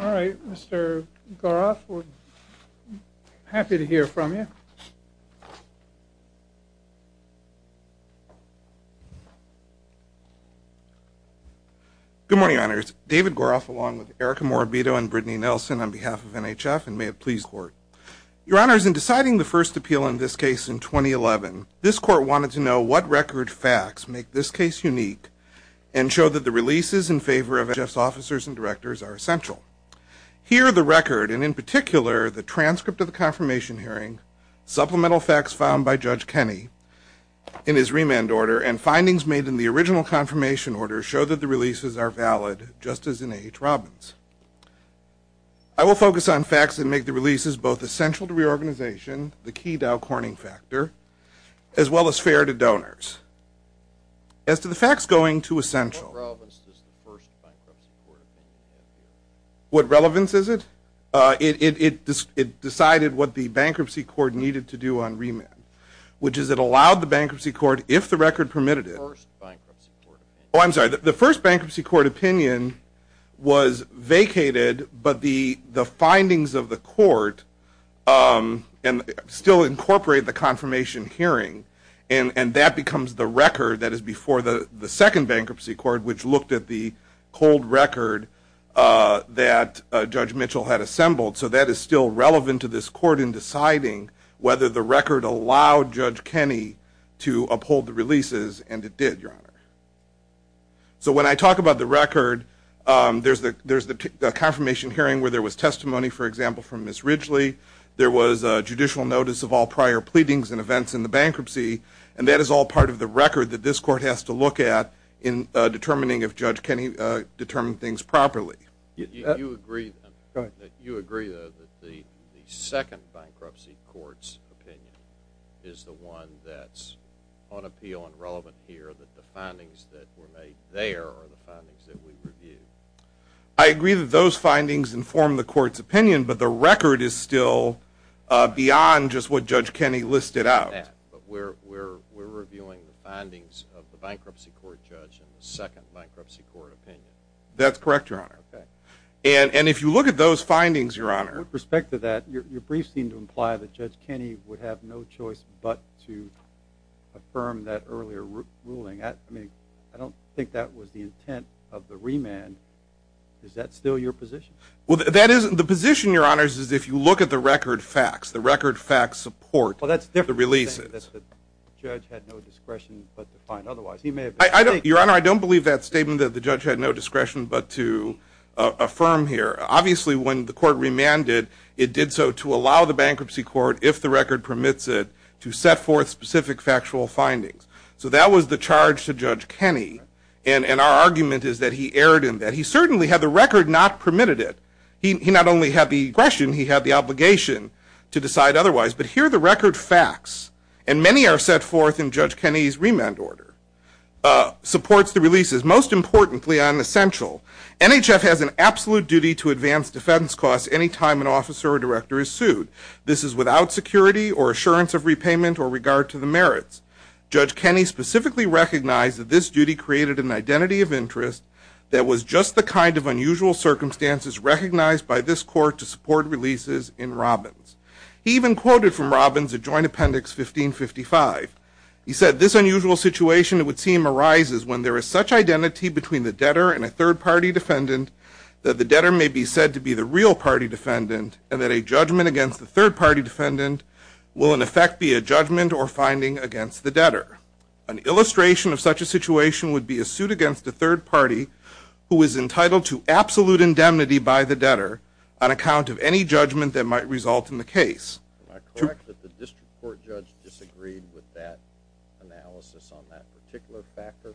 All right, Mr. Gouroff, we're happy to hear from you. Good morning, Your Honors. David Gouroff along with Erica Morabito and Brittany Nelson on behalf of NHF and may it please the Court. Your Honors, in deciding the first appeal in this case in 2011, this Court wanted to know what record facts make this case unique and show that the releases in favor of NHF's officers and directors are essential. Here the record, and in particular the transcript of the confirmation hearing, supplemental facts found by Judge Kenney in his remand order, and findings made in the original confirmation order show that the releases are valid, just as in H. Robbins. I will focus on facts that make the releases both essential to reorganization, the key Dow Corning factor, as well as fair to donors. As to the facts going to essential. What relevance does the first bankruptcy court opinion have here? What relevance is it? It decided what the bankruptcy court needed to do on remand, which is it allowed the bankruptcy court, if the record permitted it. The first bankruptcy court opinion. Oh, I'm sorry, the first bankruptcy court opinion was vacated, but the findings of the court still incorporate the confirmation hearing, and that becomes the record that is before the second bankruptcy court, which looked at the cold record that Judge Mitchell had assembled. So that is still relevant to this court in deciding whether the record allowed Judge Kenney to uphold the releases, and it did, Your Honor. So when I talk about the record, there's the confirmation hearing where there was testimony, for example, from Ms. Ridgely. There was a judicial notice of all prior pleadings and events in the bankruptcy, and that is all part of the record that this court has to look at in determining if Judge Kenney determined things properly. You agree that the second bankruptcy court's opinion is the one that's on appeal and relevant here, that the findings that were made there are the findings that we reviewed? I agree that those findings inform the court's opinion, but the record is still beyond just what Judge Kenney listed out. But we're reviewing the findings of the bankruptcy court judge in the second bankruptcy court opinion. That's correct, Your Honor. Okay. And if you look at those findings, Your Honor. With respect to that, your briefs seem to imply that Judge Kenney would have no choice but to affirm that earlier ruling. I don't think that was the intent of the remand. Is that still your position? The position, Your Honor, is if you look at the record facts, the record facts support the releases. Well, that's a different thing, that the judge had no discretion but to find otherwise. Your Honor, I don't believe that statement that the judge had no discretion but to affirm here. Obviously, when the court remanded, it did so to allow the bankruptcy court, if the record permits it, to set forth specific factual findings. So that was the charge to Judge Kenney, and our argument is that he erred in that. He certainly had the record not permitted it. He not only had the discretion, he had the obligation to decide otherwise. But here the record facts, and many are set forth in Judge Kenney's remand order, supports the releases. Most importantly and essential, NHF has an absolute duty to advance defense costs any time an officer or director is sued. This is without security or assurance of repayment or regard to the merits. Judge Kenney specifically recognized that this duty created an identity of interest that was just the kind of unusual circumstances recognized by this court to support releases in Robbins. He even quoted from Robbins a joint appendix 1555. He said, this unusual situation, it would seem, arises when there is such identity between the debtor and a third-party defendant that the debtor may be said to be the real party defendant and that a judgment against the third-party defendant will in effect be a judgment or finding against the debtor. An illustration of such a situation would be a suit against a third-party who is entitled to absolute indemnity by the debtor on account of any judgment that might result in the case. Am I correct that the district court judge disagreed with that analysis on that particular factor?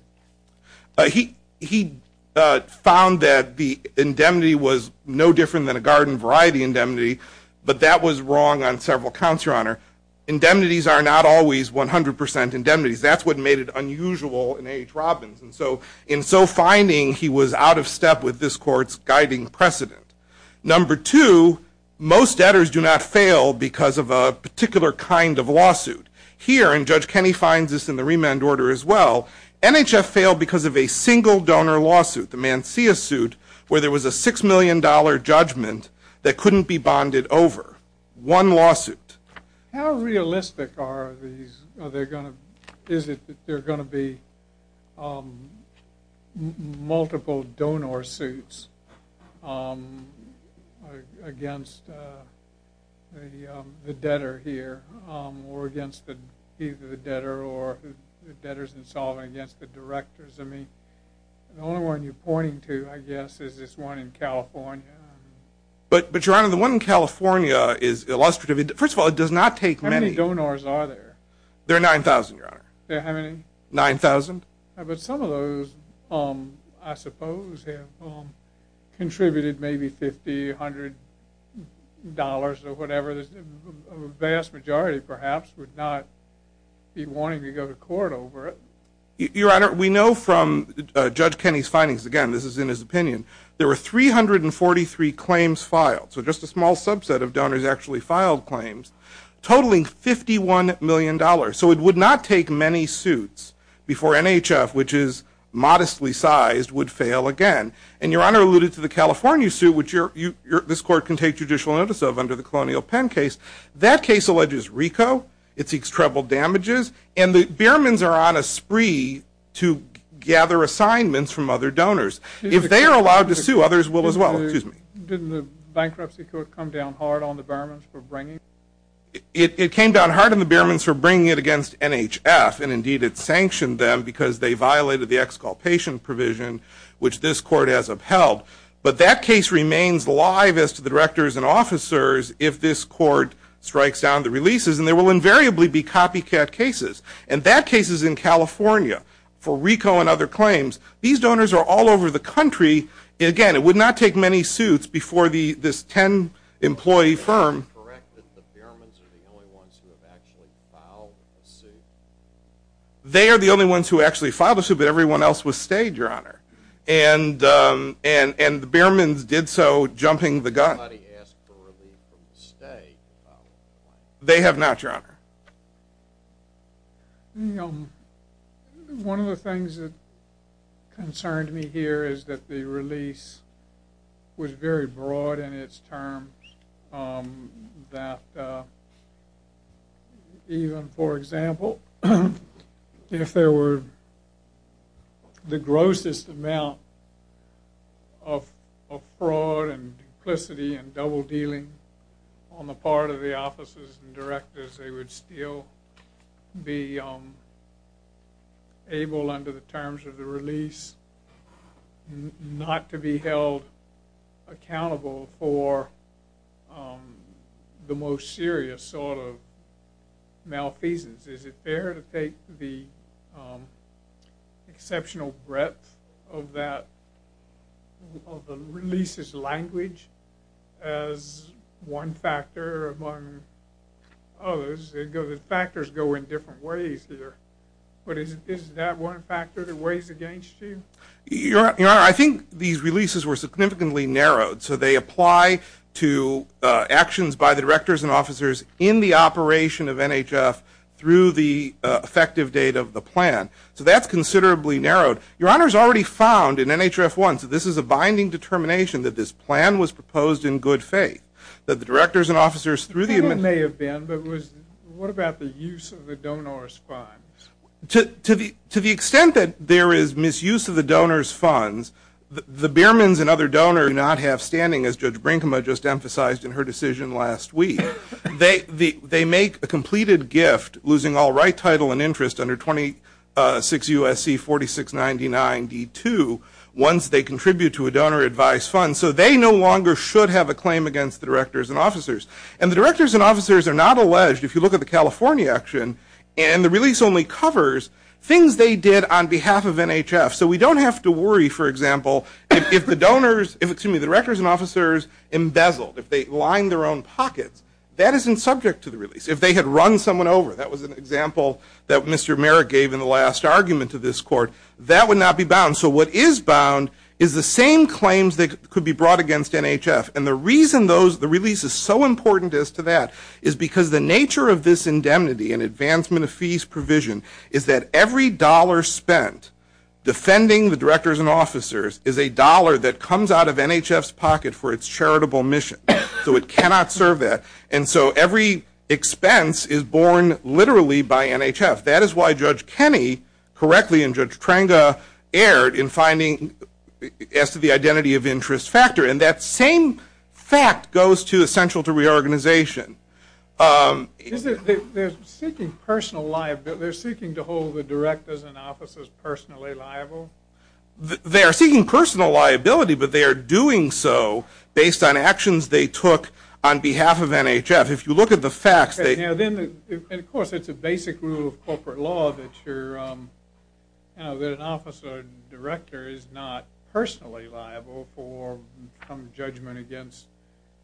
He found that the indemnity was no different than a garden variety indemnity, but that was wrong on several counts, Your Honor. Indemnities are not always 100% indemnities. That's what made it unusual in H. Robbins. And so in so finding, he was out of step with this court's guiding precedent. Number two, most debtors do not fail because of a particular kind of lawsuit. Here, and Judge Kenney finds this in the remand order as well, NHF failed because of a single donor lawsuit, the Mancia suit, where there was a $6 million judgment that couldn't be bonded over. One lawsuit. How realistic is it that there are going to be multiple donor suits against the debtor here or against either the debtor or the debtors in solving against the directors? I mean, the only one you're pointing to, I guess, is this one in California. But, Your Honor, the one in California is illustrative. First of all, it does not take many. How many donors are there? There are 9,000, Your Honor. There are how many? 9,000. But some of those, I suppose, have contributed maybe $1,500 or whatever. The vast majority, perhaps, would not be wanting to go to court over it. Your Honor, we know from Judge Kenney's findings, again, this is in his opinion, there were 343 claims filed, so just a small subset of donors actually filed claims, totaling $51 million. So it would not take many suits before NHF, which is modestly sized, would fail again. And, Your Honor, alluded to the California suit, which this Court can take judicial notice of under the Colonial Pen case. That case alleges RICO. It seeks treble damages. And the Behrmans are on a spree to gather assignments from other donors. If they are allowed to sue, others will as well. Excuse me. Didn't the bankruptcy court come down hard on the Behrmans for bringing it? It came down hard on the Behrmans for bringing it against NHF. And, indeed, it sanctioned them because they violated the exculpation provision, which this Court has upheld. But that case remains live as to the directors and officers if this Court strikes down the releases. And there will invariably be copycat cases. And that case is in California for RICO and other claims. These donors are all over the country. Again, it would not take many suits before this 10-employee firm. Is it correct that the Behrmans are the only ones who have actually filed a suit? They are the only ones who actually filed a suit, but everyone else was stayed, Your Honor. And the Behrmans did so jumping the gun. Has anybody asked for relief from the state? They have not, Your Honor. One of the things that concerned me here is that the release was very broad in its terms, that even, for example, if there were the grossest amount of fraud and duplicity and double-dealing on the part of the officers and directors, they would still be able, under the terms of the release, not to be held accountable for the most serious sort of malfeasance. Is it fair to take the exceptional breadth of the release's language as one factor among others? The factors go in different ways here. But is that one factor that weighs against you? Your Honor, I think these releases were significantly narrowed. So they apply to actions by the directors and officers in the operation of NHF through the effective date of the plan. So that's considerably narrowed. Your Honor has already found in NHF-1, so this is a binding determination, that this plan was proposed in good faith. That the directors and officers through the administration... It may have been, but what about the use of the donor's funds? To the extent that there is misuse of the donor's funds, the Biermans and other donors do not have standing, as Judge Brinkma just emphasized in her decision last week. They make a completed gift, losing all right, title, and interest under 26 U.S.C. 4699-D2, once they contribute to a donor advice fund. So they no longer should have a claim against the directors and officers. And the directors and officers are not alleged, if you look at the California action, and the release only covers things they did on behalf of NHF. So we don't have to worry, for example, if the directors and officers embezzled, if they lined their own pockets, that isn't subject to the release. If they had run someone over, that was an example that Mr. Merrick gave in the last argument to this Court, that would not be bound. So what is bound is the same claims that could be brought against NHF. And the reason the release is so important is to that, is because the nature of this indemnity and advancement of fees provision is that every dollar spent defending the directors and officers is a dollar that comes out of NHF's pocket for its charitable mission. So it cannot serve that. And so every expense is borne literally by NHF. That is why Judge Kenney, correctly, and Judge Trenga erred in finding, as to the identity of interest factor. And that same fact goes to essential to reorganization. Is it that they're seeking personal liability, they're seeking to hold the directors and officers personally liable? They are seeking personal liability, but they are doing so based on actions they took on behalf of NHF. If you look at the facts, they... And, of course, it's a basic rule of corporate law that you're, that an officer director is not personally liable for some judgment against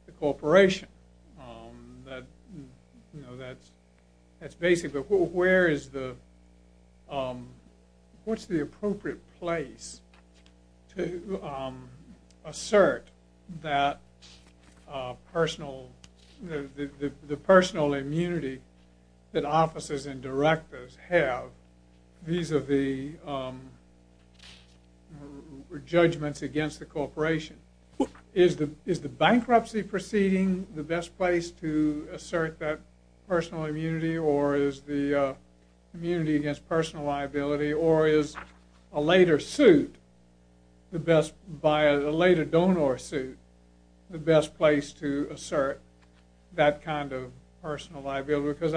the corporation. That, you know, that's basic. But where is the... What's the appropriate place to assert that personal... the personal immunity that officers and directors have vis-a-vis judgments against the corporation? Is the bankruptcy proceeding the best place to assert that personal immunity, or is the immunity against personal liability, or is a later suit, a later donor suit, the best place to assert that kind of personal liability? Because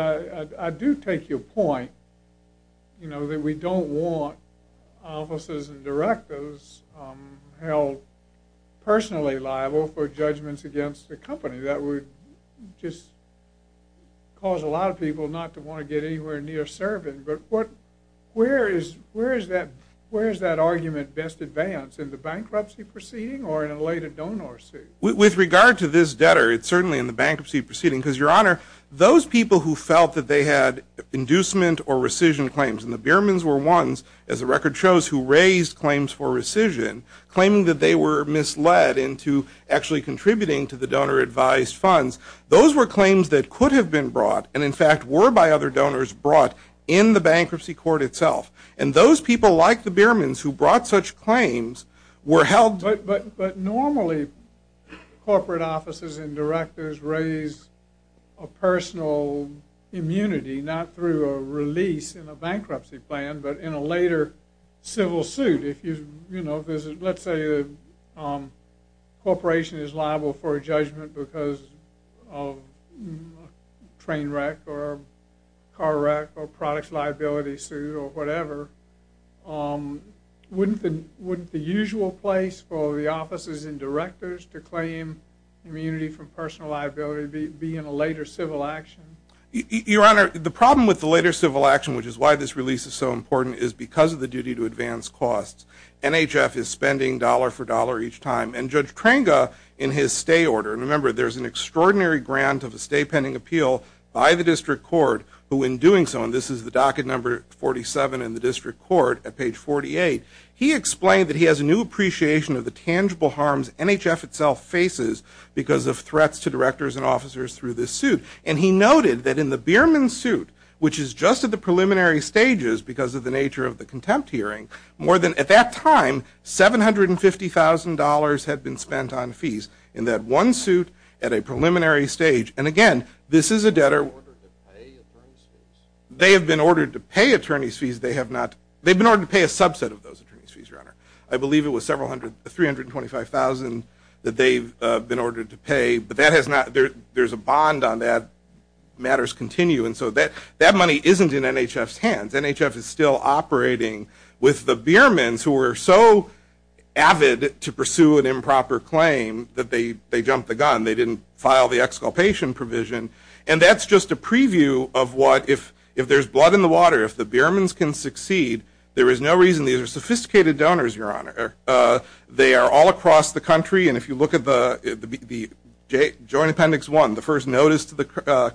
I do take your point, you know, that we don't want officers and directors held personally liable for judgments against the company. That would just cause a lot of people not to want to get anywhere near serving. But where is that argument best advanced, in the bankruptcy proceeding or in a later donor suit? With regard to this debtor, it's certainly in the bankruptcy proceeding, because, Your Honor, those people who felt that they had inducement or rescission claims, and the Biermans were ones, as the record shows, who raised claims for rescission, claiming that they were misled into actually contributing to the donor advised funds, those were claims that could have been brought, and in fact were by other donors brought in the bankruptcy court itself. And those people, like the Biermans, who brought such claims, were held... a personal immunity, not through a release in a bankruptcy plan, but in a later civil suit. You know, let's say a corporation is liable for a judgment because of train wreck or car wreck or products liability suit or whatever. Wouldn't the usual place for the officers and directors to claim immunity from personal liability be in a later civil action? Your Honor, the problem with the later civil action, which is why this release is so important, is because of the duty to advance costs. NHF is spending dollar for dollar each time. And Judge Trenga, in his stay order, and remember there's an extraordinary grant of a stay pending appeal by the district court, who in doing so, and this is the docket number 47 in the district court at page 48, he explained that he has a new appreciation of the tangible harms NHF itself faces because of threats to directors and officers through this suit. And he noted that in the Bierman suit, which is just at the preliminary stages because of the nature of the contempt hearing, more than, at that time, $750,000 had been spent on fees in that one suit at a preliminary stage. And again, this is a debtor... They've been ordered to pay attorney's fees. They have been ordered to pay attorney's fees. I believe it was $325,000 that they've been ordered to pay. But there's a bond on that. Matters continue. And so that money isn't in NHF's hands. NHF is still operating with the Biermans, who were so avid to pursue an improper claim that they jumped the gun. They didn't file the exculpation provision. And that's just a preview of what, if there's blood in the water, if the Biermans can succeed. There is no reason. These are sophisticated donors, Your Honor. They are all across the country. And if you look at the Joint Appendix 1, the first notice to the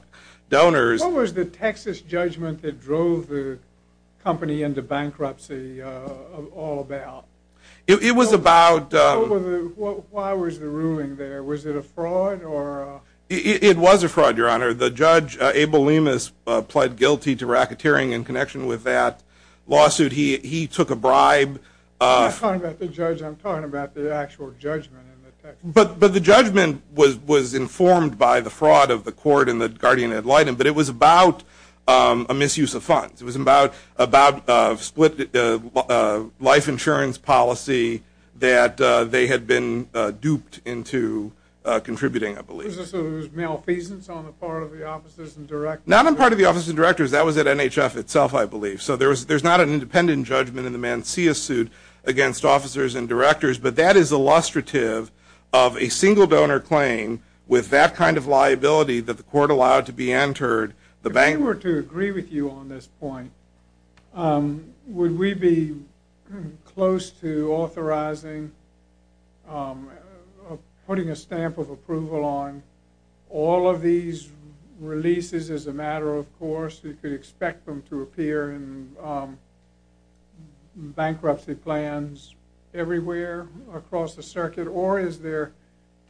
donors. What was the Texas judgment that drove the company into bankruptcy all about? It was about... Why was the ruling there? Was it a fraud? It was a fraud, Your Honor. The judge, Abel Lemus, pled guilty to racketeering in connection with that lawsuit. He took a bribe. I'm not talking about the judge. I'm talking about the actual judgment. But the judgment was informed by the fraud of the court and the guardian ad litem. But it was about a misuse of funds. It was about a split life insurance policy that they had been duped into contributing, I believe. Was this a malfeasance on the part of the officers and directors? Not on the part of the officers and directors. That was at NHF itself, I believe. So there's not an independent judgment in the Mancia suit against officers and directors. But that is illustrative of a single donor claim with that kind of liability that the court allowed to be entered. If we were to agree with you on this point, would we be close to authorizing putting a stamp of approval on all of these releases as a matter of course? You could expect them to appear in bankruptcy plans everywhere across the circuit. Or is there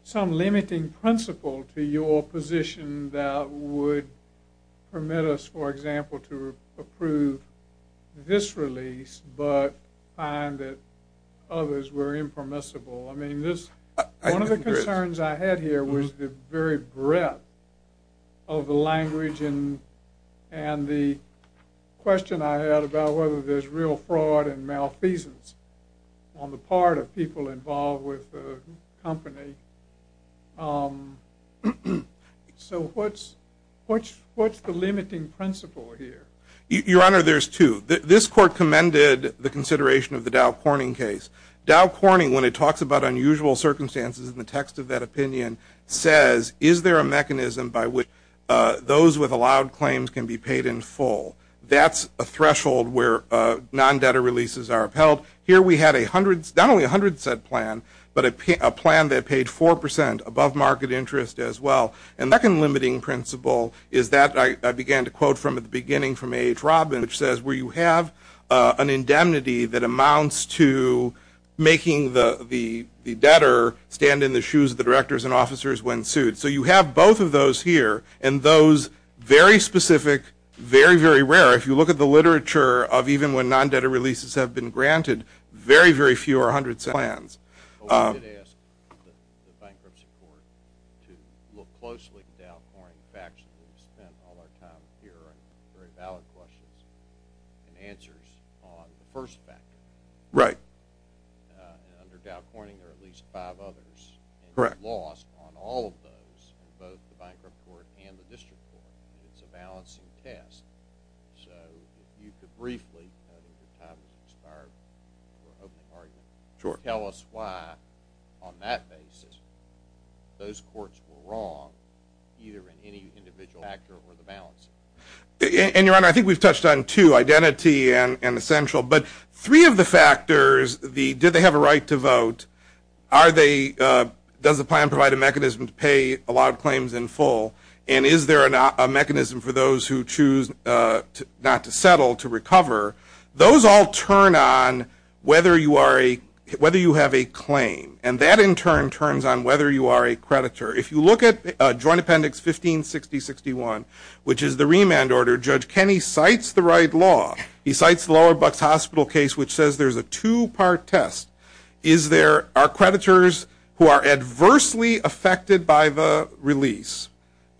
some limiting principle to your position that would permit us, for example, to approve this release but find that others were impermissible? I mean, one of the concerns I had here was the very breadth of the language and the question I had about whether there's real fraud and malfeasance on the part of people involved with the company. So what's the limiting principle here? Your Honor, there's two. This court commended the consideration of the Dow Corning case. Dow Corning, when it talks about unusual circumstances in the text of that opinion, says is there a mechanism by which those with allowed claims can be paid in full? Here we had not only a 100-set plan, but a plan that paid 4% above market interest as well. And the second limiting principle is that I began to quote from the beginning from H. Robin, which says where you have an indemnity that amounts to making the debtor stand in the shoes of the directors and officers when sued. So you have both of those here. And those very specific, very, very rare, if you look at the literature of even when non-debtor releases have been granted, very, very few are 100-set plans. But we did ask the bankruptcy court to look closely at the Dow Corning facts that we've spent all our time here on very valid questions and answers on the first factor. Right. And under Dow Corning, there are at least five others. Correct. And we've lost on all of those, both the bankrupt court and the district court. It's a balancing test. So if you could briefly tell us why on that basis those courts were wrong either in any individual factor or the balancing. And, Your Honor, I think we've touched on two, identity and essential. But three of the factors, the did they have a right to vote, does the plan provide a mechanism to pay allowed claims in full, and is there a mechanism for those who choose not to settle to recover, those all turn on whether you have a claim. And that, in turn, turns on whether you are a creditor. If you look at Joint Appendix 1560-61, which is the remand order, Judge Kenney cites the right law. He cites the Lower Bucks Hospital case, which says there's a two-part test. Is there, are creditors who are adversely affected by the release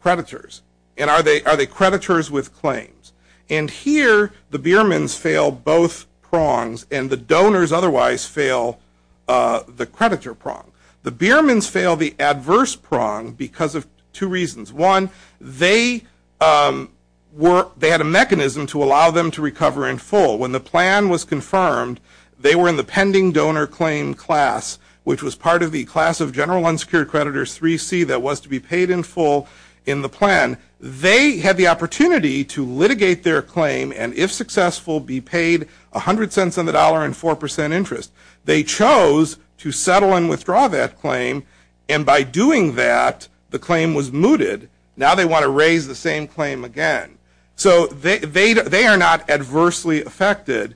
creditors? And are they creditors with claims? And here, the Beermans fail both prongs, and the donors otherwise fail the creditor prong. The Beermans fail the adverse prong because of two reasons. One, they had a mechanism to allow them to recover in full. When the plan was confirmed, they were in the pending donor claim class, which was part of the class of general unsecured creditors 3C that was to be paid in full in the plan. They had the opportunity to litigate their claim and, if successful, be paid 100 cents on the dollar and 4% interest. They chose to settle and withdraw that claim, and by doing that, the claim was mooted. Now they want to raise the same claim again. So they are not adversely affected.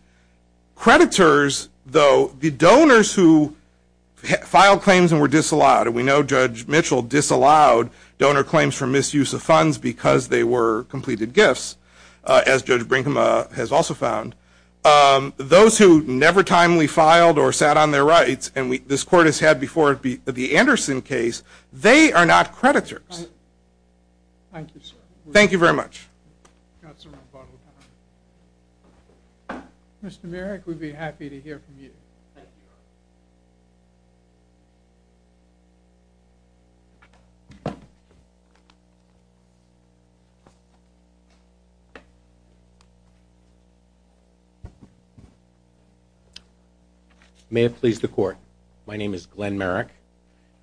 Creditors, though, the donors who filed claims and were disallowed, and we know Judge Mitchell disallowed donor claims for misuse of funds because they were completed gifts, as Judge Brinkema has also found. Those who never timely filed or sat on their rights, and this Court has had before the Anderson case, they are not creditors. Thank you, sir. Thank you very much. Mr. Merrick, we'd be happy to hear from you. May it please the Court, my name is Glenn Merrick.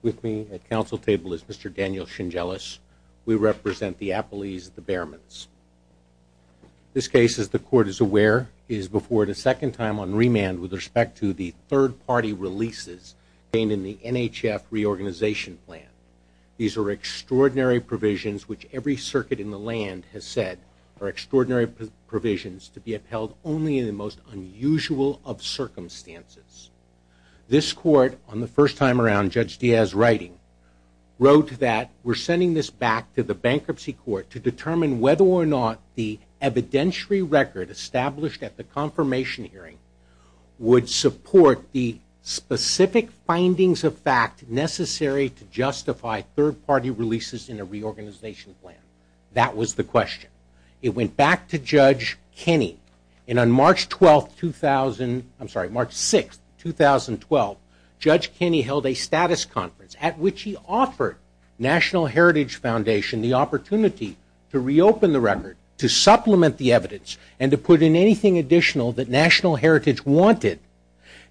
With me at council table is Mr. Daniel Shingelis. We represent the appellees of the Behrmans. This case, as the Court is aware, is before it a second time on remand with respect to the third-party releases gained in the NHF reorganization plan. These are extraordinary provisions which every circuit in the land has said are extraordinary provisions to be upheld only in the most unusual of circumstances. This Court, on the first time around, Judge Diaz writing, wrote that we're sending this back to the bankruptcy court to determine whether or not the evidentiary record established at the confirmation hearing would support the specific findings of fact necessary to justify third-party releases in a reorganization plan. That was the question. It went back to Judge Kenney, and on March 12, 2000, I'm sorry, March 6, 2012, Judge Kenney held a status conference at which he offered National Heritage Foundation the opportunity to reopen the record, to supplement the evidence, and to put in anything additional that National Heritage wanted.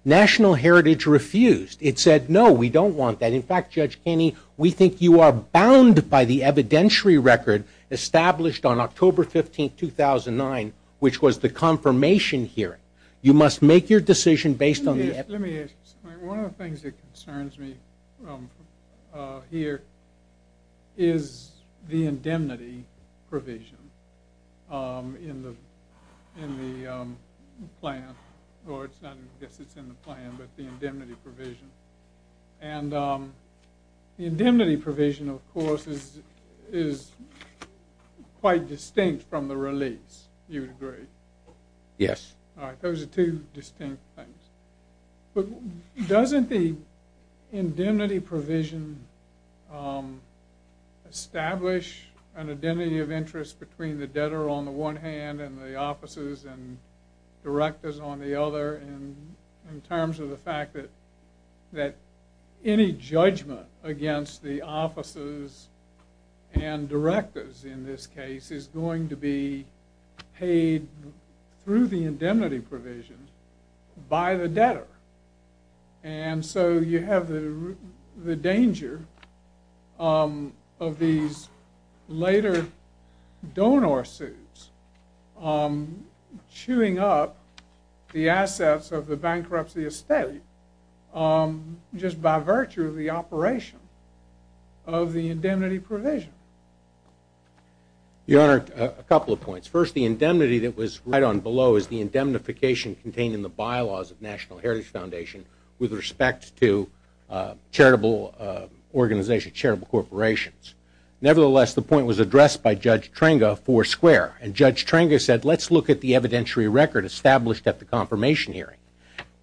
National Heritage refused. It said no, we don't want that. In fact, Judge Kenney, we think you are bound by the evidentiary record established on October 15, 2009, which was the confirmation hearing. You must make your decision based on the evidence. One of the things that concerns me here is the indemnity provision in the plan, or I guess it's in the plan, but the indemnity provision. And the indemnity provision, of course, is quite distinct from the release, you would agree. Yes. All right, those are two distinct things. But doesn't the indemnity provision establish an identity of interest between the debtor on the one hand and the officers and directors on the other in terms of the fact that any judgment against the officers and directors in this case is going to be paid through the indemnity provision by the debtor? And so you have the danger of these later donor suits chewing up the assets of the bankruptcy estate just by virtue of the operation of the indemnity provision. Your Honor, a couple of points. First, the indemnity that was right on below is the indemnification contained in the bylaws of the National Heritage Foundation with respect to charitable organizations, charitable corporations. Nevertheless, the point was addressed by Judge Trenga, four square. And Judge Trenga said, let's look at the evidentiary record established at the confirmation hearing.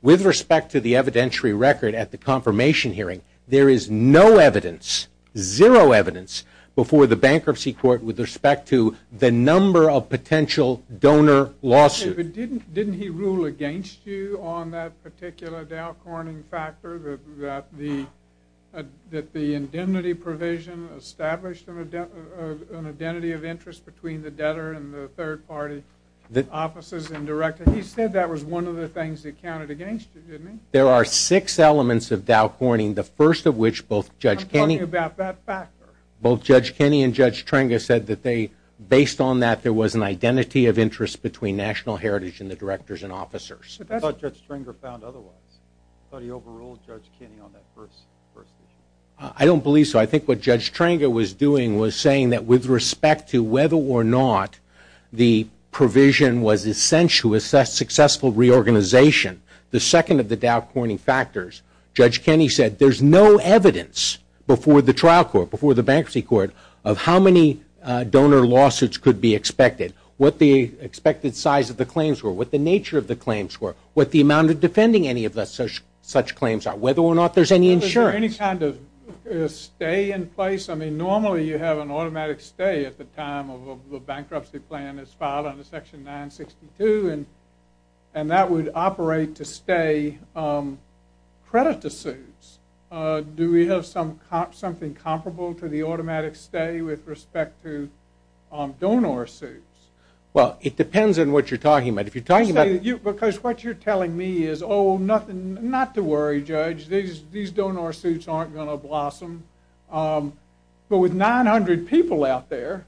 With respect to the evidentiary record at the confirmation hearing, there is no evidence, zero evidence before the bankruptcy court with respect to the number of potential donor lawsuits. But didn't he rule against you on that particular Dow Corning factor that the indemnity provision established an identity of interest between the debtor and the third party officers and directors? He said that was one of the things he counted against you, didn't he? There are six elements of Dow Corning, the first of which both Judge Kenney I'm talking about that factor. Both Judge Kenney and Judge Trenga said that based on that, there was an identity of interest between National Heritage and the directors and officers. I thought Judge Trenga found otherwise. I thought he overruled Judge Kenney on that first issue. I don't believe so. I think what Judge Trenga was doing was saying that with respect to whether or not the provision was essential to a successful reorganization, the second of the Dow Corning factors, Judge Kenney said there's no evidence before the trial court, before the bankruptcy court, of how many donor lawsuits could be expected, what the expected size of the claims were, what the nature of the claims were, what the amount of defending any of such claims are, whether or not there's any insurance. Was there any kind of stay in place? I mean, normally you have an automatic stay at the time of the bankruptcy plan is filed under Section 962, and that would operate to stay credit to suits. Do we have something comparable to the automatic stay with respect to donor suits? Well, it depends on what you're talking about. Because what you're telling me is, oh, not to worry, Judge, these donor suits aren't going to blossom. But with 900 people out there,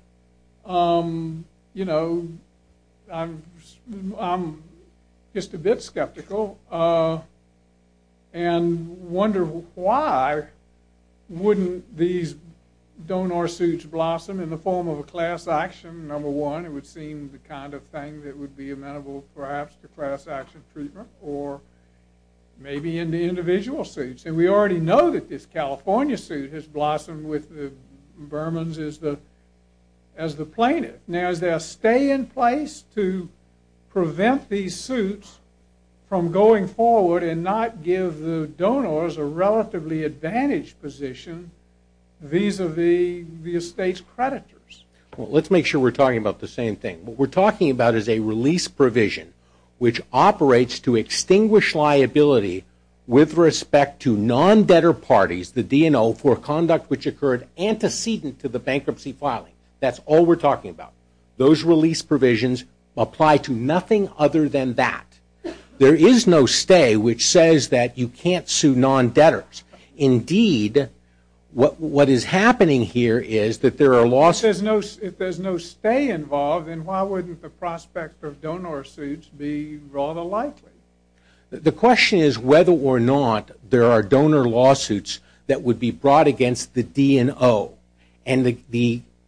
you know, I'm just a bit skeptical and wonder why wouldn't these donor suits blossom in the form of a class action, number one, it would seem the kind of thing that would be amenable perhaps to class action treatment, or maybe in the individual suits. And we already know that this California suit has blossomed with the Burmans as the plaintiff. Now, is there a stay in place to prevent these suits from going forward and not give the donors a relatively advantaged position vis-a-vis the estate's creditors? Well, let's make sure we're talking about the same thing. What we're talking about is a release provision which operates to extinguish liability with respect to non-debtor parties, the DNO, for conduct which occurred antecedent to the bankruptcy filing. That's all we're talking about. Those release provisions apply to nothing other than that. There is no stay which says that you can't sue non-debtors. Indeed, what is happening here is that there are lawsuits. If there's no stay involved, then why wouldn't the prospect of donor suits be rather likely? The question is whether or not there are donor lawsuits that would be brought against the DNO. And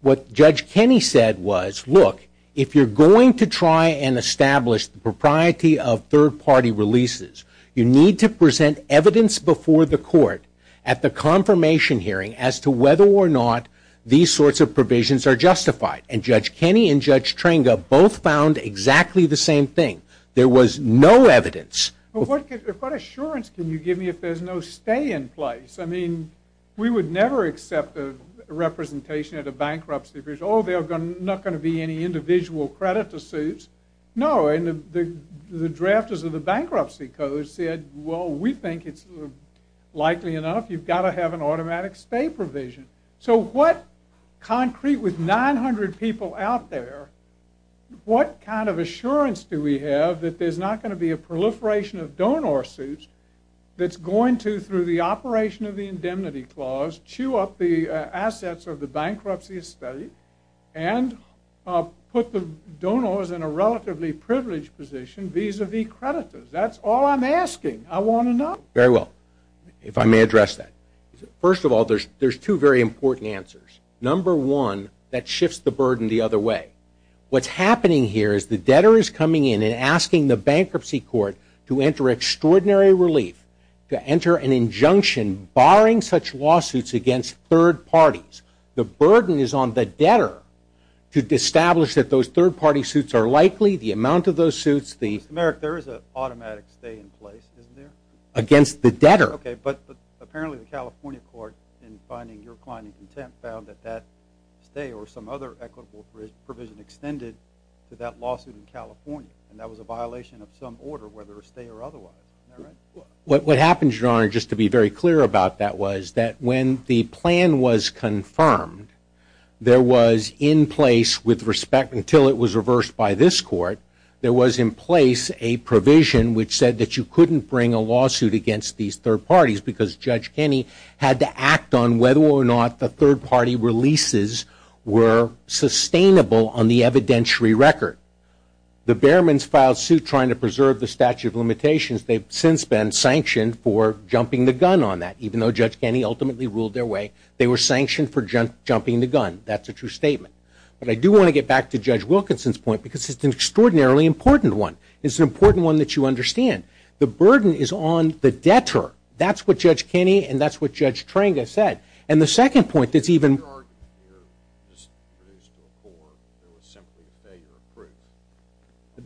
what Judge Kenney said was, look, if you're going to try and establish the propriety of third-party releases, you need to present evidence before the court at the confirmation hearing as to whether or not these sorts of provisions are justified. And Judge Kenney and Judge Trenga both found exactly the same thing. There was no evidence. What assurance can you give me if there's no stay in place? I mean, we would never accept a representation at a bankruptcy because, oh, there's not going to be any individual credit to suits. No, and the drafters of the bankruptcy code said, well, we think it's likely enough. You've got to have an automatic stay provision. So what concrete with 900 people out there, what kind of assurance do we have that there's not going to be a proliferation of donor suits that's going to, through the operation of the indemnity clause, chew up the assets of the bankruptcy estate and put the donors in a relatively privileged position vis-a-vis creditors? That's all I'm asking. I want to know. Very well. If I may address that. First of all, there's two very important answers. Number one, that shifts the burden the other way. What's happening here is the debtor is coming in and asking the bankruptcy court to enter extraordinary relief, to enter an injunction barring such lawsuits against third parties. The burden is on the debtor to establish that those third-party suits are likely, the amount of those suits, the – Mr. Merrick, there is an automatic stay in place, isn't there? Against the debtor. Okay, but apparently the California court, in finding your client in contempt, found that that stay or some other equitable provision extended to that lawsuit in California, and that was a violation of some order, whether a stay or otherwise. Am I right? What happens, Your Honor, just to be very clear about that, was that when the plan was confirmed, there was in place with respect until it was reversed by this court, there was in place a provision which said that you couldn't bring a lawsuit against these third parties because Judge Kenney had to act on whether or not the third-party releases were sustainable on the evidentiary record. The Behrmans filed suit trying to preserve the statute of limitations. They've since been sanctioned for jumping the gun on that, even though Judge Kenney ultimately ruled their way. They were sanctioned for jumping the gun. That's a true statement. But I do want to get back to Judge Wilkinson's point because it's an extraordinarily important one. It's an important one that you understand. The burden is on the debtor. That's what Judge Kenney and that's what Judge Trenga said. And the second point that's even more. Your argument here just produced a report that was simply a failure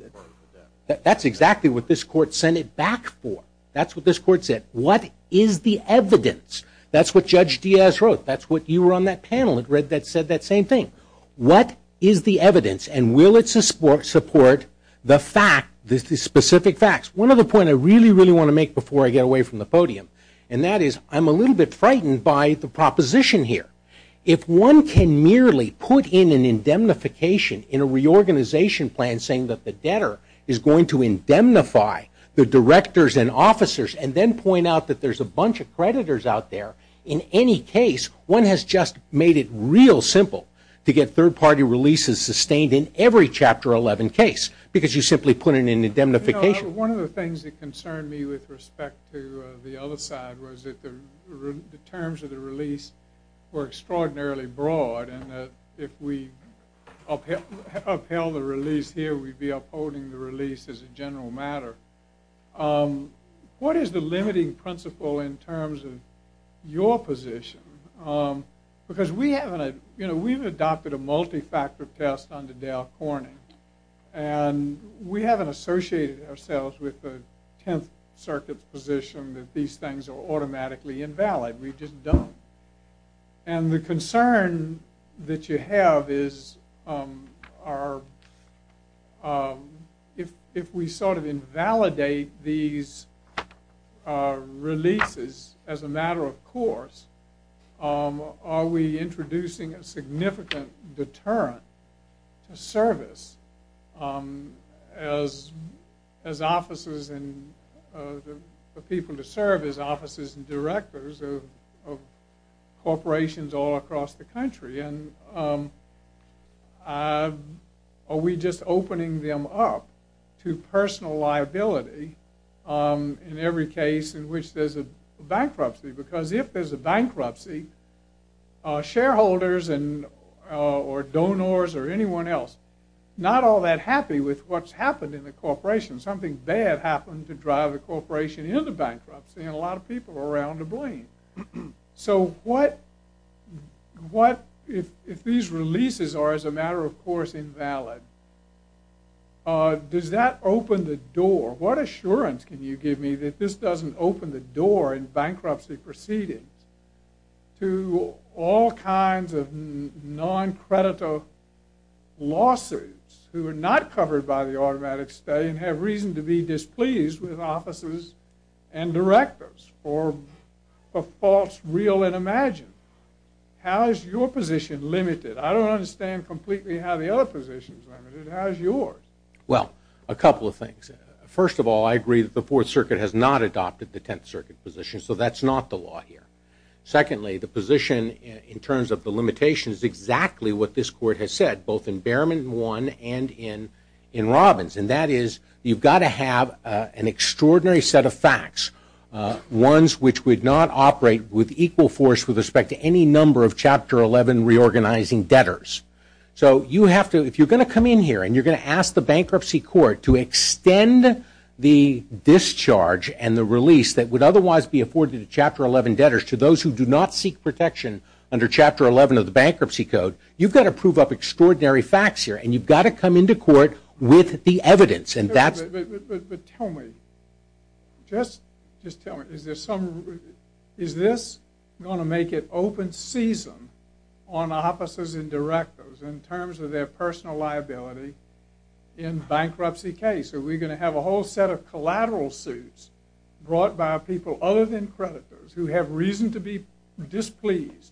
of proof. That's exactly what this court sent it back for. That's what this court said. What is the evidence? That's what Judge Diaz wrote. That's what you were on that panel and read that said that same thing. What is the evidence, and will it support the fact, the specific facts? One other point I really, really want to make before I get away from the podium, and that is I'm a little bit frightened by the proposition here. If one can merely put in an indemnification in a reorganization plan saying that the debtor is going to indemnify the directors and officers and then point out that there's a bunch of creditors out there, in any case, one has just made it real simple to get third-party releases sustained in every Chapter 11 case because you simply put in an indemnification. One of the things that concerned me with respect to the other side was that the terms of the release were extraordinarily broad and that if we upheld the release here, we'd be upholding the release as a general matter. What is the limiting principle in terms of your position? Because we haven't adopted a multi-factor test under Dale Cornyn, and we haven't associated ourselves with the Tenth Circuit's position that these things are automatically invalid. We just don't. And the concern that you have is if we sort of invalidate these releases as a matter of course, are we introducing a significant deterrent to service as officers and the people to serve as officers and directors of corporations all across the country? Are we just opening them up to personal liability in every case in which there's a bankruptcy? Because if there's a bankruptcy, shareholders or donors or anyone else are not all that happy with what's happened in the corporation. Something bad happened to drive a corporation into bankruptcy, and a lot of people are around to blame. So if these releases are, as a matter of course, invalid, does that open the door? What assurance can you give me that this doesn't open the door in bankruptcy proceedings to all kinds of non-creditor lawsuits who are not covered by the automatic stay and have reason to be displeased with officers and directors for false, real, and imagined? How is your position limited? I don't understand completely how the other position is limited. How is yours? Well, a couple of things. First of all, I agree that the Fourth Circuit has not adopted the Tenth Circuit position, so that's not the law here. Secondly, the position in terms of the limitations is exactly what this Court has said, both in Bearman 1 and in Robbins, and that is you've got to have an extraordinary set of facts, ones which would not operate with equal force with respect to any number of Chapter 11 reorganizing debtors. So if you're going to come in here and you're going to ask the Bankruptcy Court to extend the discharge and the release that would otherwise be afforded to Chapter 11 debtors to those who do not seek protection under Chapter 11 of the Bankruptcy Code, you've got to prove up extraordinary facts here, and you've got to come into court with the evidence. But tell me, is this going to make it open season on officers and directors in terms of their personal liability in bankruptcy case? Are we going to have a whole set of collateral suits brought by people other than creditors who have reason to be displeased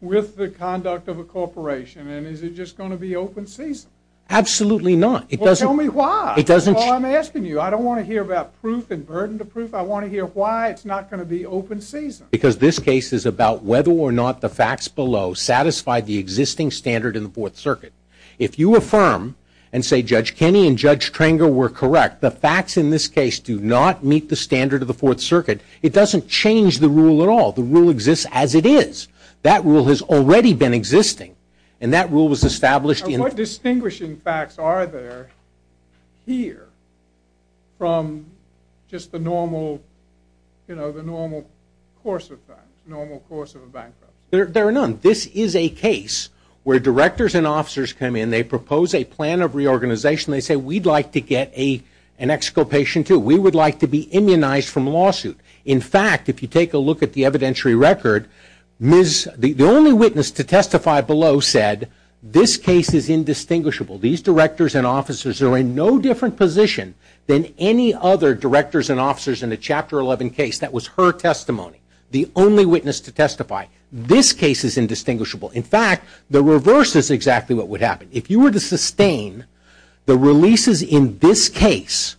with the conduct of a corporation, and is it just going to be open season? Absolutely not. Well, tell me why. That's all I'm asking you. I don't want to hear about proof and burden to proof. I want to hear why it's not going to be open season. Because this case is about whether or not the facts below satisfy the existing standard in the Fourth Circuit. If you affirm and say Judge Kenney and Judge Trenger were correct, the facts in this case do not meet the standard of the Fourth Circuit, it doesn't change the rule at all. The rule exists as it is. That rule has already been existing, and that rule was established in the How many distinguishing facts are there here from just the normal course of a bankruptcy? There are none. This is a case where directors and officers come in, they propose a plan of reorganization, they say we'd like to get an exculpation, too. We would like to be immunized from a lawsuit. In fact, if you take a look at the evidentiary record, the only witness to testify below said this case is indistinguishable. These directors and officers are in no different position than any other directors and officers in the Chapter 11 case. That was her testimony, the only witness to testify. This case is indistinguishable. In fact, the reverse is exactly what would happen. If you were to sustain the releases in this case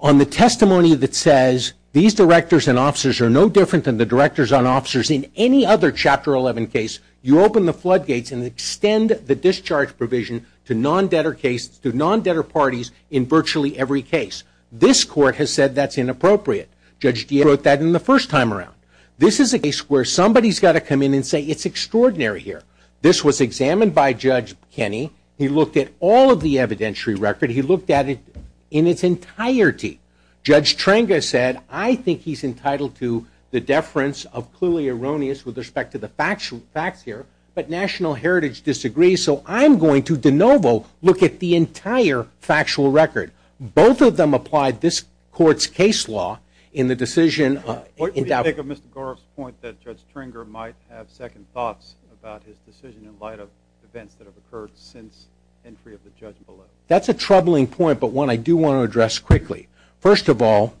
on the testimony that says these directors and officers are no different than the directors and officers in any other Chapter 11 case, you open the floodgates and extend the discharge provision to non-debtor cases, to non-debtor parties in virtually every case. This court has said that's inappropriate. Judge Diaz wrote that in the first time around. This is a case where somebody's got to come in and say it's extraordinary here. This was examined by Judge Kenney. He looked at all of the evidentiary record. He looked at it in its entirety. Judge Trenga said, I think he's entitled to the deference of clearly erroneous with respect to the facts here, but National Heritage disagrees, so I'm going to de novo look at the entire factual record. Both of them applied this court's case law in the decision. What do you think of Mr. Goroff's point that Judge Trenga might have second thoughts about his decision in light of events that have occurred since entry of the judge below? That's a troubling point, but one I do want to address quickly. First of all,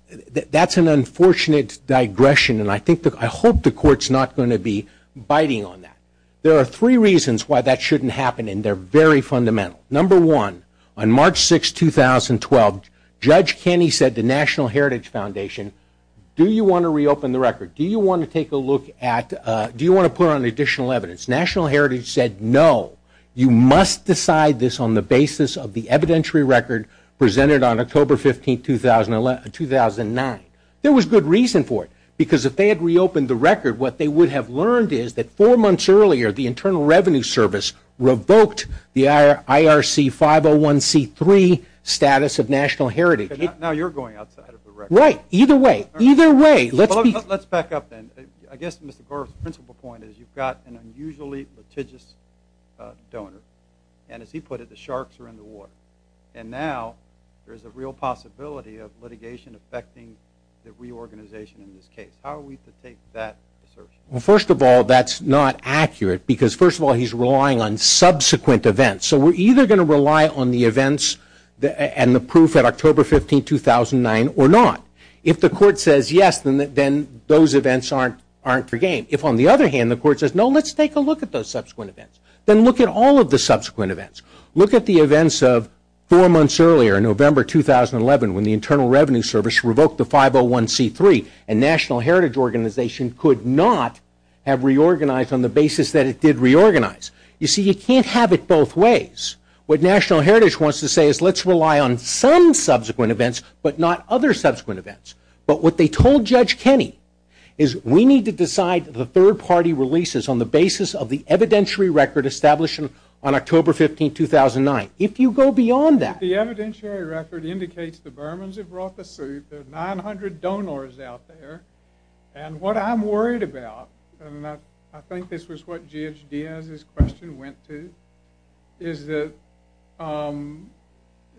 that's an unfortunate digression, and I hope the court's not going to be biting on that. There are three reasons why that shouldn't happen, and they're very fundamental. Number one, on March 6, 2012, Judge Kenney said to National Heritage Foundation, do you want to reopen the record? Do you want to take a look at, do you want to put on additional evidence? National Heritage said, no, you must decide this on the basis of the evidentiary record presented on October 15, 2009. There was good reason for it, because if they had reopened the record, what they would have learned is that four months earlier, the Internal Revenue Service revoked the IRC 501C3 status of National Heritage. Now you're going outside of the record. Right, either way, either way. Let's back up then. I guess Mr. Garff's principal point is you've got an unusually litigious donor, and as he put it, the sharks are in the water. And now there's a real possibility of litigation affecting the reorganization in this case. How are we to take that assertion? Well, first of all, that's not accurate, because first of all, he's relying on subsequent events. So we're either going to rely on the events and the proof at October 15, 2009 or not. If the court says yes, then those events aren't for game. If, on the other hand, the court says, no, let's take a look at those subsequent events, then look at all of the subsequent events. Look at the events of four months earlier, November 2011, when the Internal Revenue Service revoked the 501C3, and National Heritage Organization could not have reorganized on the basis that it did reorganize. You see, you can't have it both ways. What National Heritage wants to say is let's rely on some subsequent events, but not other subsequent events. But what they told Judge Kenney is we need to decide the third-party releases on the basis of the evidentiary record established on October 15, 2009. If you go beyond that... The evidentiary record indicates the Burmans have brought the suit. There are 900 donors out there. And what I'm worried about, and I think this was what G.H. Diaz's question went to, is that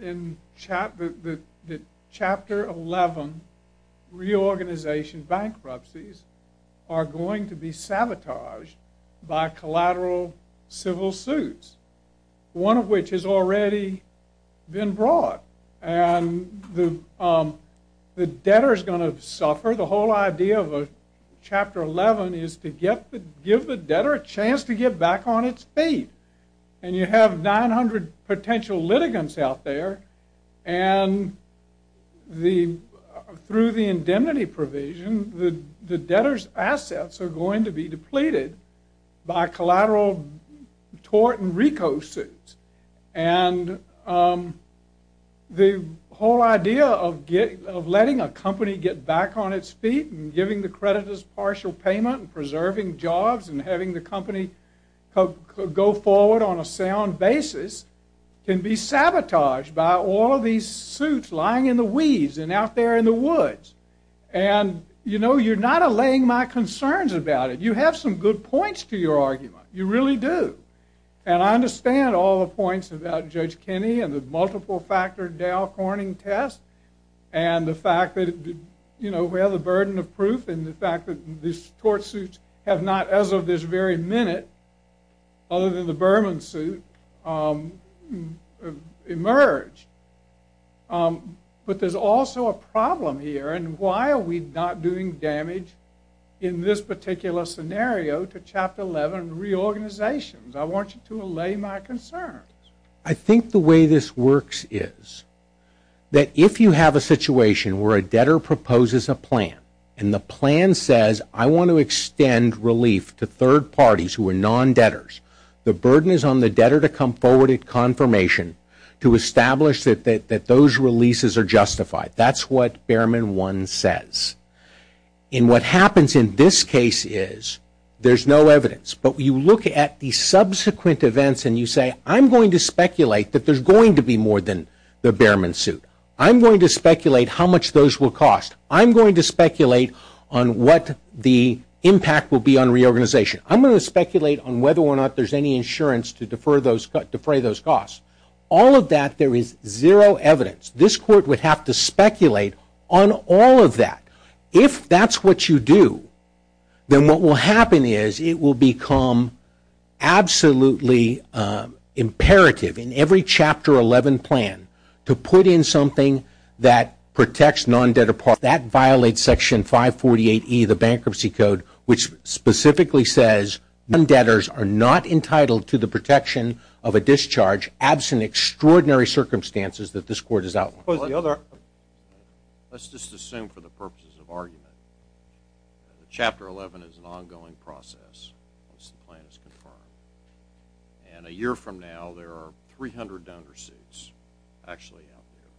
in Chapter 11, reorganization bankruptcies are going to be sabotaged by collateral civil suits, one of which has already been brought. And the debtor's going to suffer. The whole idea of Chapter 11 is to give the debtor a chance to get back on its feet. And you have 900 potential litigants out there, and through the indemnity provision the debtor's assets are going to be depleted by collateral tort and RICO suits. And the whole idea of letting a company get back on its feet and giving the creditors partial payment and preserving jobs and having the company go forward on a sound basis can be sabotaged by all of these suits lying in the weeds and out there in the woods. And you're not allaying my concerns about it. You have some good points to your argument. You really do. And I understand all the points about Judge Kenney and the multiple-factor Dow Corning test and the fact that we have the burden of proof and the fact that these tort suits have not, as of this very minute, other than the Berman suit, emerged. But there's also a problem here, and why are we not doing damage in this particular scenario to Chapter 11 reorganizations? I want you to allay my concerns. I think the way this works is that if you have a situation where a debtor proposes a plan and the plan says, I want to extend relief to third parties who are non-debtors, the burden is on the debtor to come forward at confirmation to establish that those releases are justified. That's what Berman 1 says. And what happens in this case is there's no evidence. But you look at the subsequent events and you say, I'm going to speculate that there's going to be more than the Berman suit. I'm going to speculate how much those will cost. I'm going to speculate on what the impact will be on reorganization. I'm going to speculate on whether or not there's any insurance to defray those costs. All of that, there is zero evidence. This Court would have to speculate on all of that. If that's what you do, then what will happen is it will become absolutely imperative in every Chapter 11 plan to put in something that protects non-debtor parties. That violates Section 548E of the Bankruptcy Code, which specifically says non-debtors are not entitled to the protection of a discharge absent extraordinary circumstances that this Court has outlined. Let's just assume for the purposes of argument, Chapter 11 is an ongoing process once the plan is confirmed. And a year from now, there are 300 donor suits actually out there.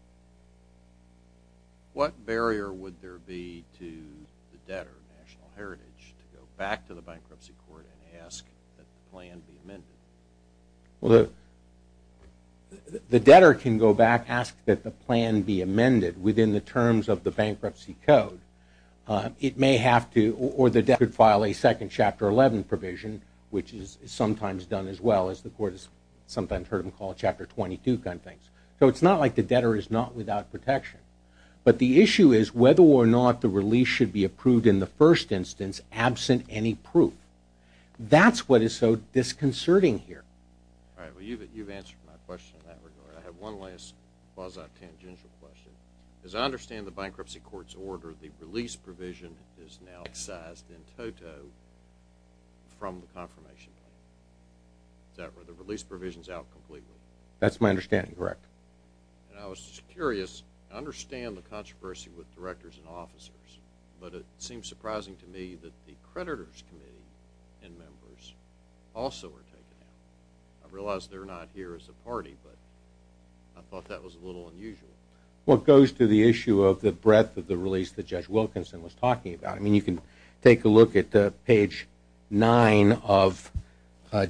What barrier would there be to the debtor of national heritage to go back to the Bankruptcy Court and ask that the plan be amended? Well, the debtor can go back, ask that the plan be amended within the terms of the Bankruptcy Code. It may have to, or the debtor could file a second Chapter 11 provision, which is sometimes done as well as the Court has sometimes heard them call Chapter 22 kind of things. So it's not like the debtor is not without protection. But the issue is whether or not the release should be approved in the first instance absent any proof. That's what is so disconcerting here. All right. Well, you've answered my question in that regard. I have one last quasi-tangential question. As I understand the Bankruptcy Court's order, the release provision is now excised in toto from the confirmation plan. Is that right? The release provision is out completely. That's my understanding, correct. And I was just curious. I understand the controversy with directors and officers, but it seems surprising to me that the creditors' committee and members also were taken out. I realize they're not here as a party, but I thought that was a little unusual. Well, it goes to the issue of the breadth of the release that Judge Wilkinson was talking about. I mean, you can take a look at page 9 of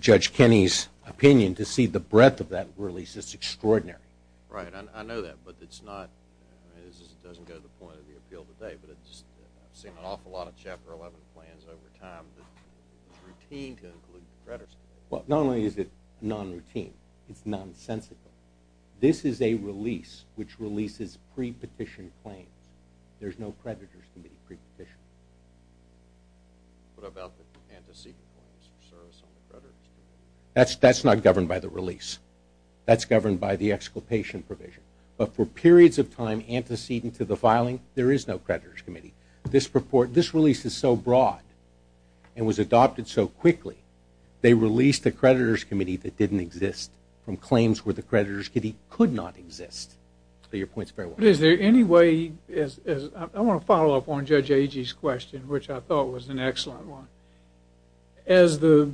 Judge Kenney's opinion to see the breadth of that release. It's extraordinary. Right. I know that. I mean, this doesn't go to the point of the appeal today, but I've seen an awful lot of Chapter 11 plans over time that it's routine to include the creditors' committee. Well, not only is it non-routine, it's nonsensical. This is a release which releases pre-petition claims. There's no creditors' committee pre-petition. What about the antecedent claims for service on the creditors' committee? That's not governed by the release. That's governed by the exculpation provision. But for periods of time antecedent to the filing, there is no creditors' committee. This release is so broad and was adopted so quickly, they released a creditors' committee that didn't exist from claims where the creditors' committee could not exist. But your point's very well made. But is there any way, I want to follow up on Judge Agee's question, which I thought was an excellent one. As the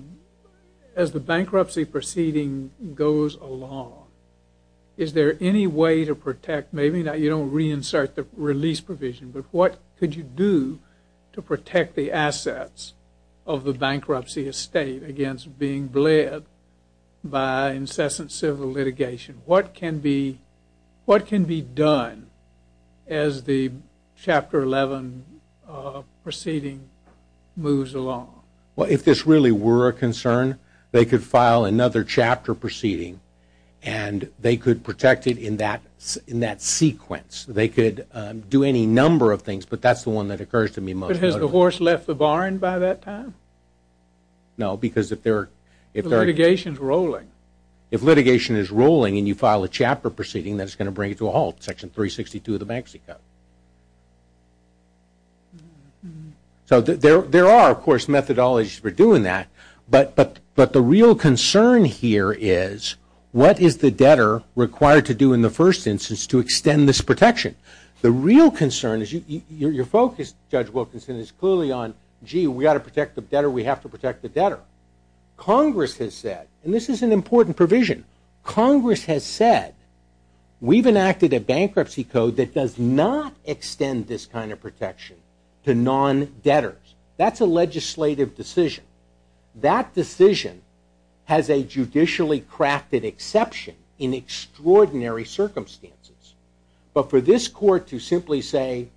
bankruptcy proceeding goes along, is there any way to protect, maybe you don't reinsert the release provision, but what could you do to protect the assets of the bankruptcy estate against being bled by incessant civil litigation? What can be done as the Chapter 11 proceeding moves along? Well, if this really were a concern, they could file another chapter proceeding and they could protect it in that sequence. They could do any number of things, but that's the one that occurs to me most notably. But has the horse left the barn by that time? No, because if they're – The litigation's rolling. If litigation is rolling and you file a chapter proceeding, that's going to bring it to a halt, Section 362 of the Bankruptcy Code. So there are, of course, methodologies for doing that, but the real concern here is what is the debtor required to do in the first instance to extend this protection? The real concern is – your focus, Judge Wilkinson, is clearly on, gee, we've got to protect the debtor, we have to protect the debtor. Congress has said, and this is an important provision, Congress has said, we've enacted a bankruptcy code that does not extend this kind of protection to non-debtors. That's a legislative decision. That decision has a judicially crafted exception in extraordinary circumstances. But for this court to simply say,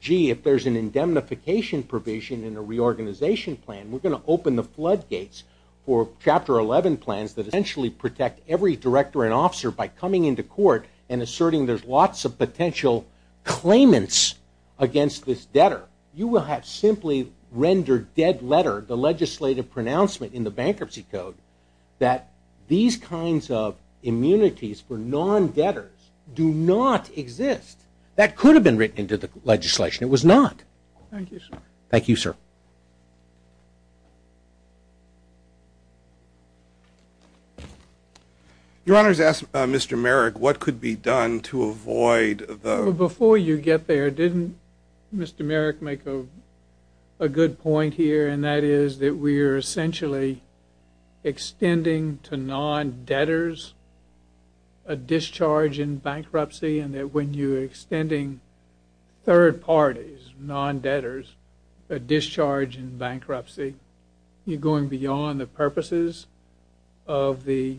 gee, if there's an indemnification provision in the reorganization plan, we're going to open the floodgates for Chapter 11 plans that essentially protect every director and officer by coming into court and asserting there's lots of potential claimants against this debtor, you will have simply rendered dead letter the legislative pronouncement in the Bankruptcy Code that these kinds of immunities for non-debtors do not exist. That could have been written into the legislation. It was not. Thank you, sir. Thank you. Your Honor, to ask Mr. Merrick what could be done to avoid the Before you get there, didn't Mr. Merrick make a good point here, and that is that we are essentially extending to non-debtors a discharge in bankruptcy and that when you're extending third parties, non-debtors, a discharge in bankruptcy, you're going beyond the purposes of the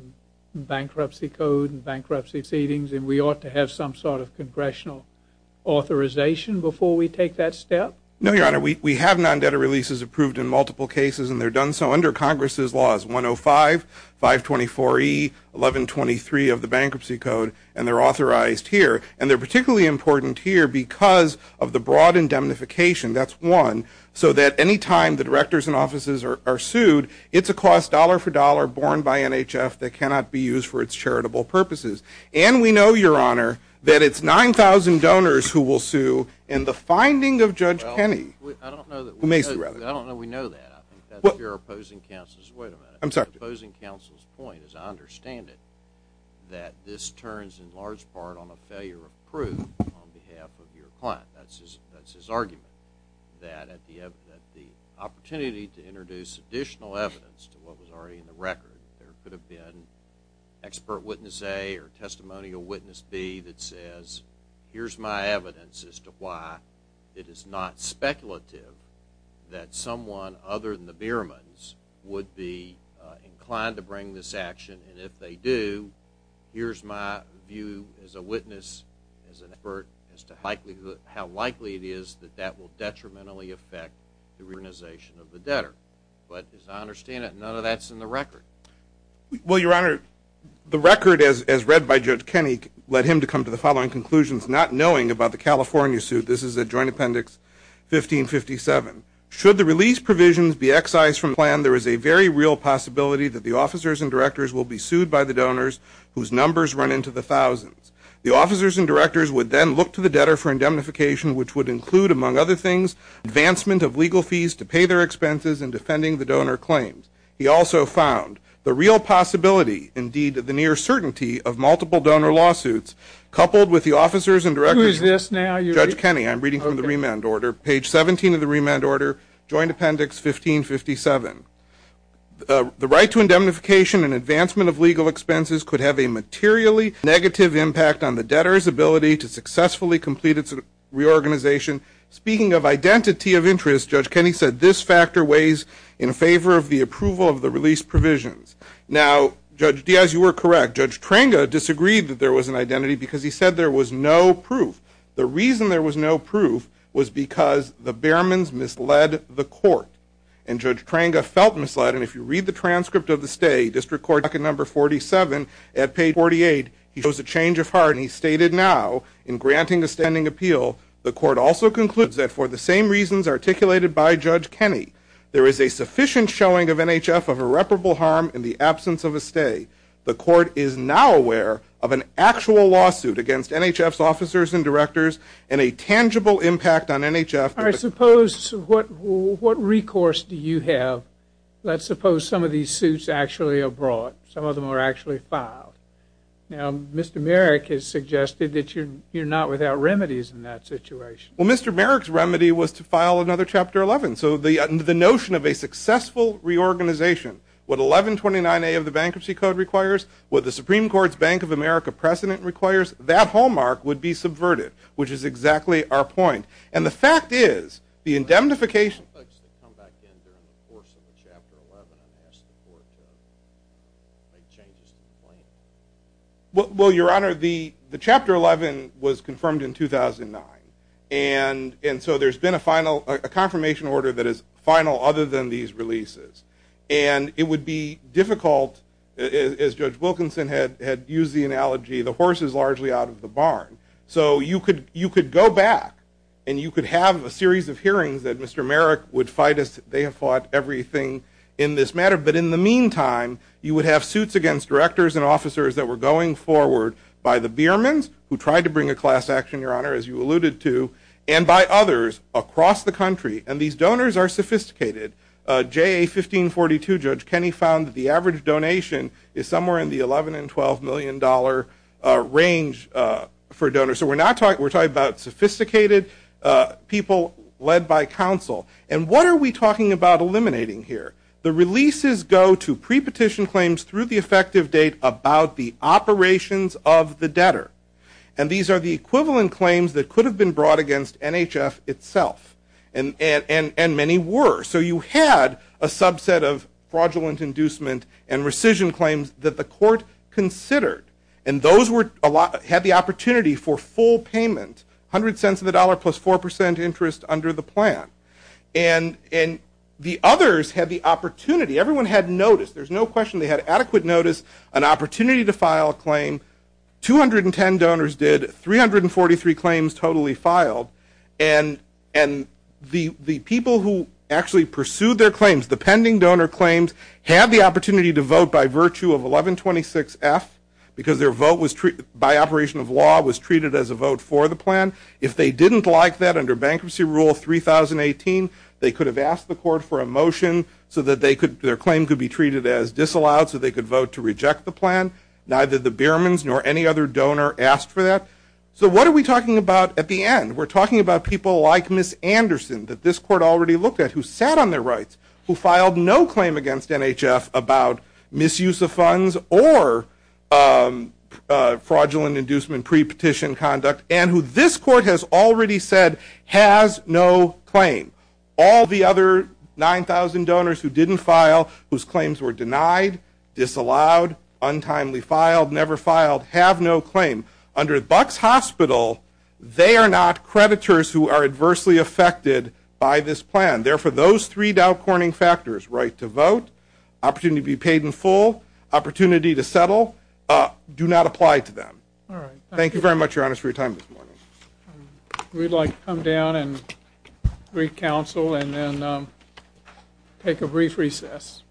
Bankruptcy Code and bankruptcy proceedings and we ought to have some sort of congressional authorization before we take that step? No, Your Honor. We have non-debtor releases approved in multiple cases and they're done so under Congress's laws, 105, 524E, 1123 of the Bankruptcy Code, and they're authorized here and they're particularly important here because of the broad indemnification, that's one, so that any time the directors in offices are sued, it's a cost dollar for dollar borne by NHF that cannot be used for its charitable purposes. And we know, Your Honor, that it's 9,000 donors who will sue, and the finding of Judge Kenney Well, I don't know that we know that. I think that's your opposing counsel's, wait a minute. I'm sorry. Opposing counsel's point is I understand it, that this turns in large part on a failure of proof on behalf of your client. That's his argument, that at the opportunity to introduce additional evidence to what was already in the record, there could have been expert witness A or testimonial witness B that says here's my evidence as to why it is not speculative that someone other than the Biermans would be inclined to bring this action, and if they do, here's my view as a witness, as an expert, as to how likely it is that that will detrimentally affect the reorganization of the debtor. But as I understand it, none of that's in the record. Well, Your Honor, the record, as read by Judge Kenney, led him to come to the following conclusions. Not knowing about the California suit, this is at Joint Appendix 1557. Should the release provisions be excised from the plan, there is a very real possibility that the officers and directors will be sued by the donors whose numbers run into the thousands. The officers and directors would then look to the debtor for indemnification, which would include, among other things, advancement of legal fees to pay their expenses in defending the donor claims. He also found the real possibility, indeed, of multiple donor lawsuits coupled with the officers and directors. Who is this now? Judge Kenney. I'm reading from the remand order. Page 17 of the remand order, Joint Appendix 1557. The right to indemnification and advancement of legal expenses could have a materially negative impact on the debtor's ability to successfully complete its reorganization. Speaking of identity of interest, Judge Kenney said, this factor weighs in favor of the approval of the release provisions. Now, Judge Diaz, you were correct. Judge Tranga disagreed that there was an identity because he said there was no proof. The reason there was no proof was because the Behrmans misled the court. And Judge Tranga felt misled. And if you read the transcript of the stay, District Court Docket Number 47, at page 48, he shows a change of heart. And he stated now, in granting a standing appeal, the court also concludes that for the same reasons articulated by Judge Kenney, there is a sufficient showing of NHF of irreparable harm in the absence of a stay. The court is now aware of an actual lawsuit against NHF's officers and directors and a tangible impact on NHF. I suppose what recourse do you have? Let's suppose some of these suits actually are brought. Some of them are actually filed. Now, Mr. Merrick has suggested that you're not without remedies in that situation. Well, Mr. Merrick's remedy was to file another Chapter 11. So the notion of a successful reorganization, what 1129A of the Bankruptcy Code requires, what the Supreme Court's Bank of America precedent requires, that hallmark would be subverted, which is exactly our point. And the fact is the indemnification of the courts in the Chapter 11 and ask the court to make changes to the claim. Well, Your Honor, the Chapter 11 was confirmed in 2009. And so there's been a confirmation order that is final other than these releases. And it would be difficult, as Judge Wilkinson had used the analogy, the horse is largely out of the barn. So you could go back and you could have a series of hearings that Mr. Merrick would fight as they have fought everything in this matter. But in the meantime, you would have suits against directors and officers that were going forward by the beermen who tried to bring a class action, Your Honor, as you alluded to, and by others across the country. And these donors are sophisticated. JA 1542 Judge Kenney found that the average donation is somewhere in the $11 and $12 million range for donors. So we're talking about sophisticated people led by counsel. And what are we talking about eliminating here? The releases go to pre-petition claims through the effective date about the operations of the debtor. And these are the equivalent claims that could have been brought against NHF itself. And many were. So you had a subset of fraudulent inducement and rescission claims that the court considered. And those had the opportunity for full payment, $0.00 of the dollar plus 4% interest under the plan. And the others had the opportunity. Everyone had notice. 210 donors did. 343 claims totally filed. And the people who actually pursued their claims, the pending donor claims, had the opportunity to vote by virtue of 1126F because their vote by operation of law was treated as a vote for the plan. If they didn't like that under Bankruptcy Rule 3018, they could have asked the court for a motion so that their claim could be treated as disallowed so they could vote to reject the plan. Neither the Biermans nor any other donor asked for that. So what are we talking about at the end? We're talking about people like Ms. Anderson that this court already looked at who sat on their rights, who filed no claim against NHF about misuse of funds or fraudulent inducement pre-petition conduct, and who this court has already said has no claim. All the other 9,000 donors who didn't file, whose claims were denied, disallowed, untimely filed, never filed, have no claim. Under Bucks Hospital, they are not creditors who are adversely affected by this plan. Therefore, those three doubt-corning factors, right to vote, opportunity to be paid in full, opportunity to settle, do not apply to them. Thank you very much, Your Honor, for your time this morning. We'd like to come down and brief counsel and then take a brief recess.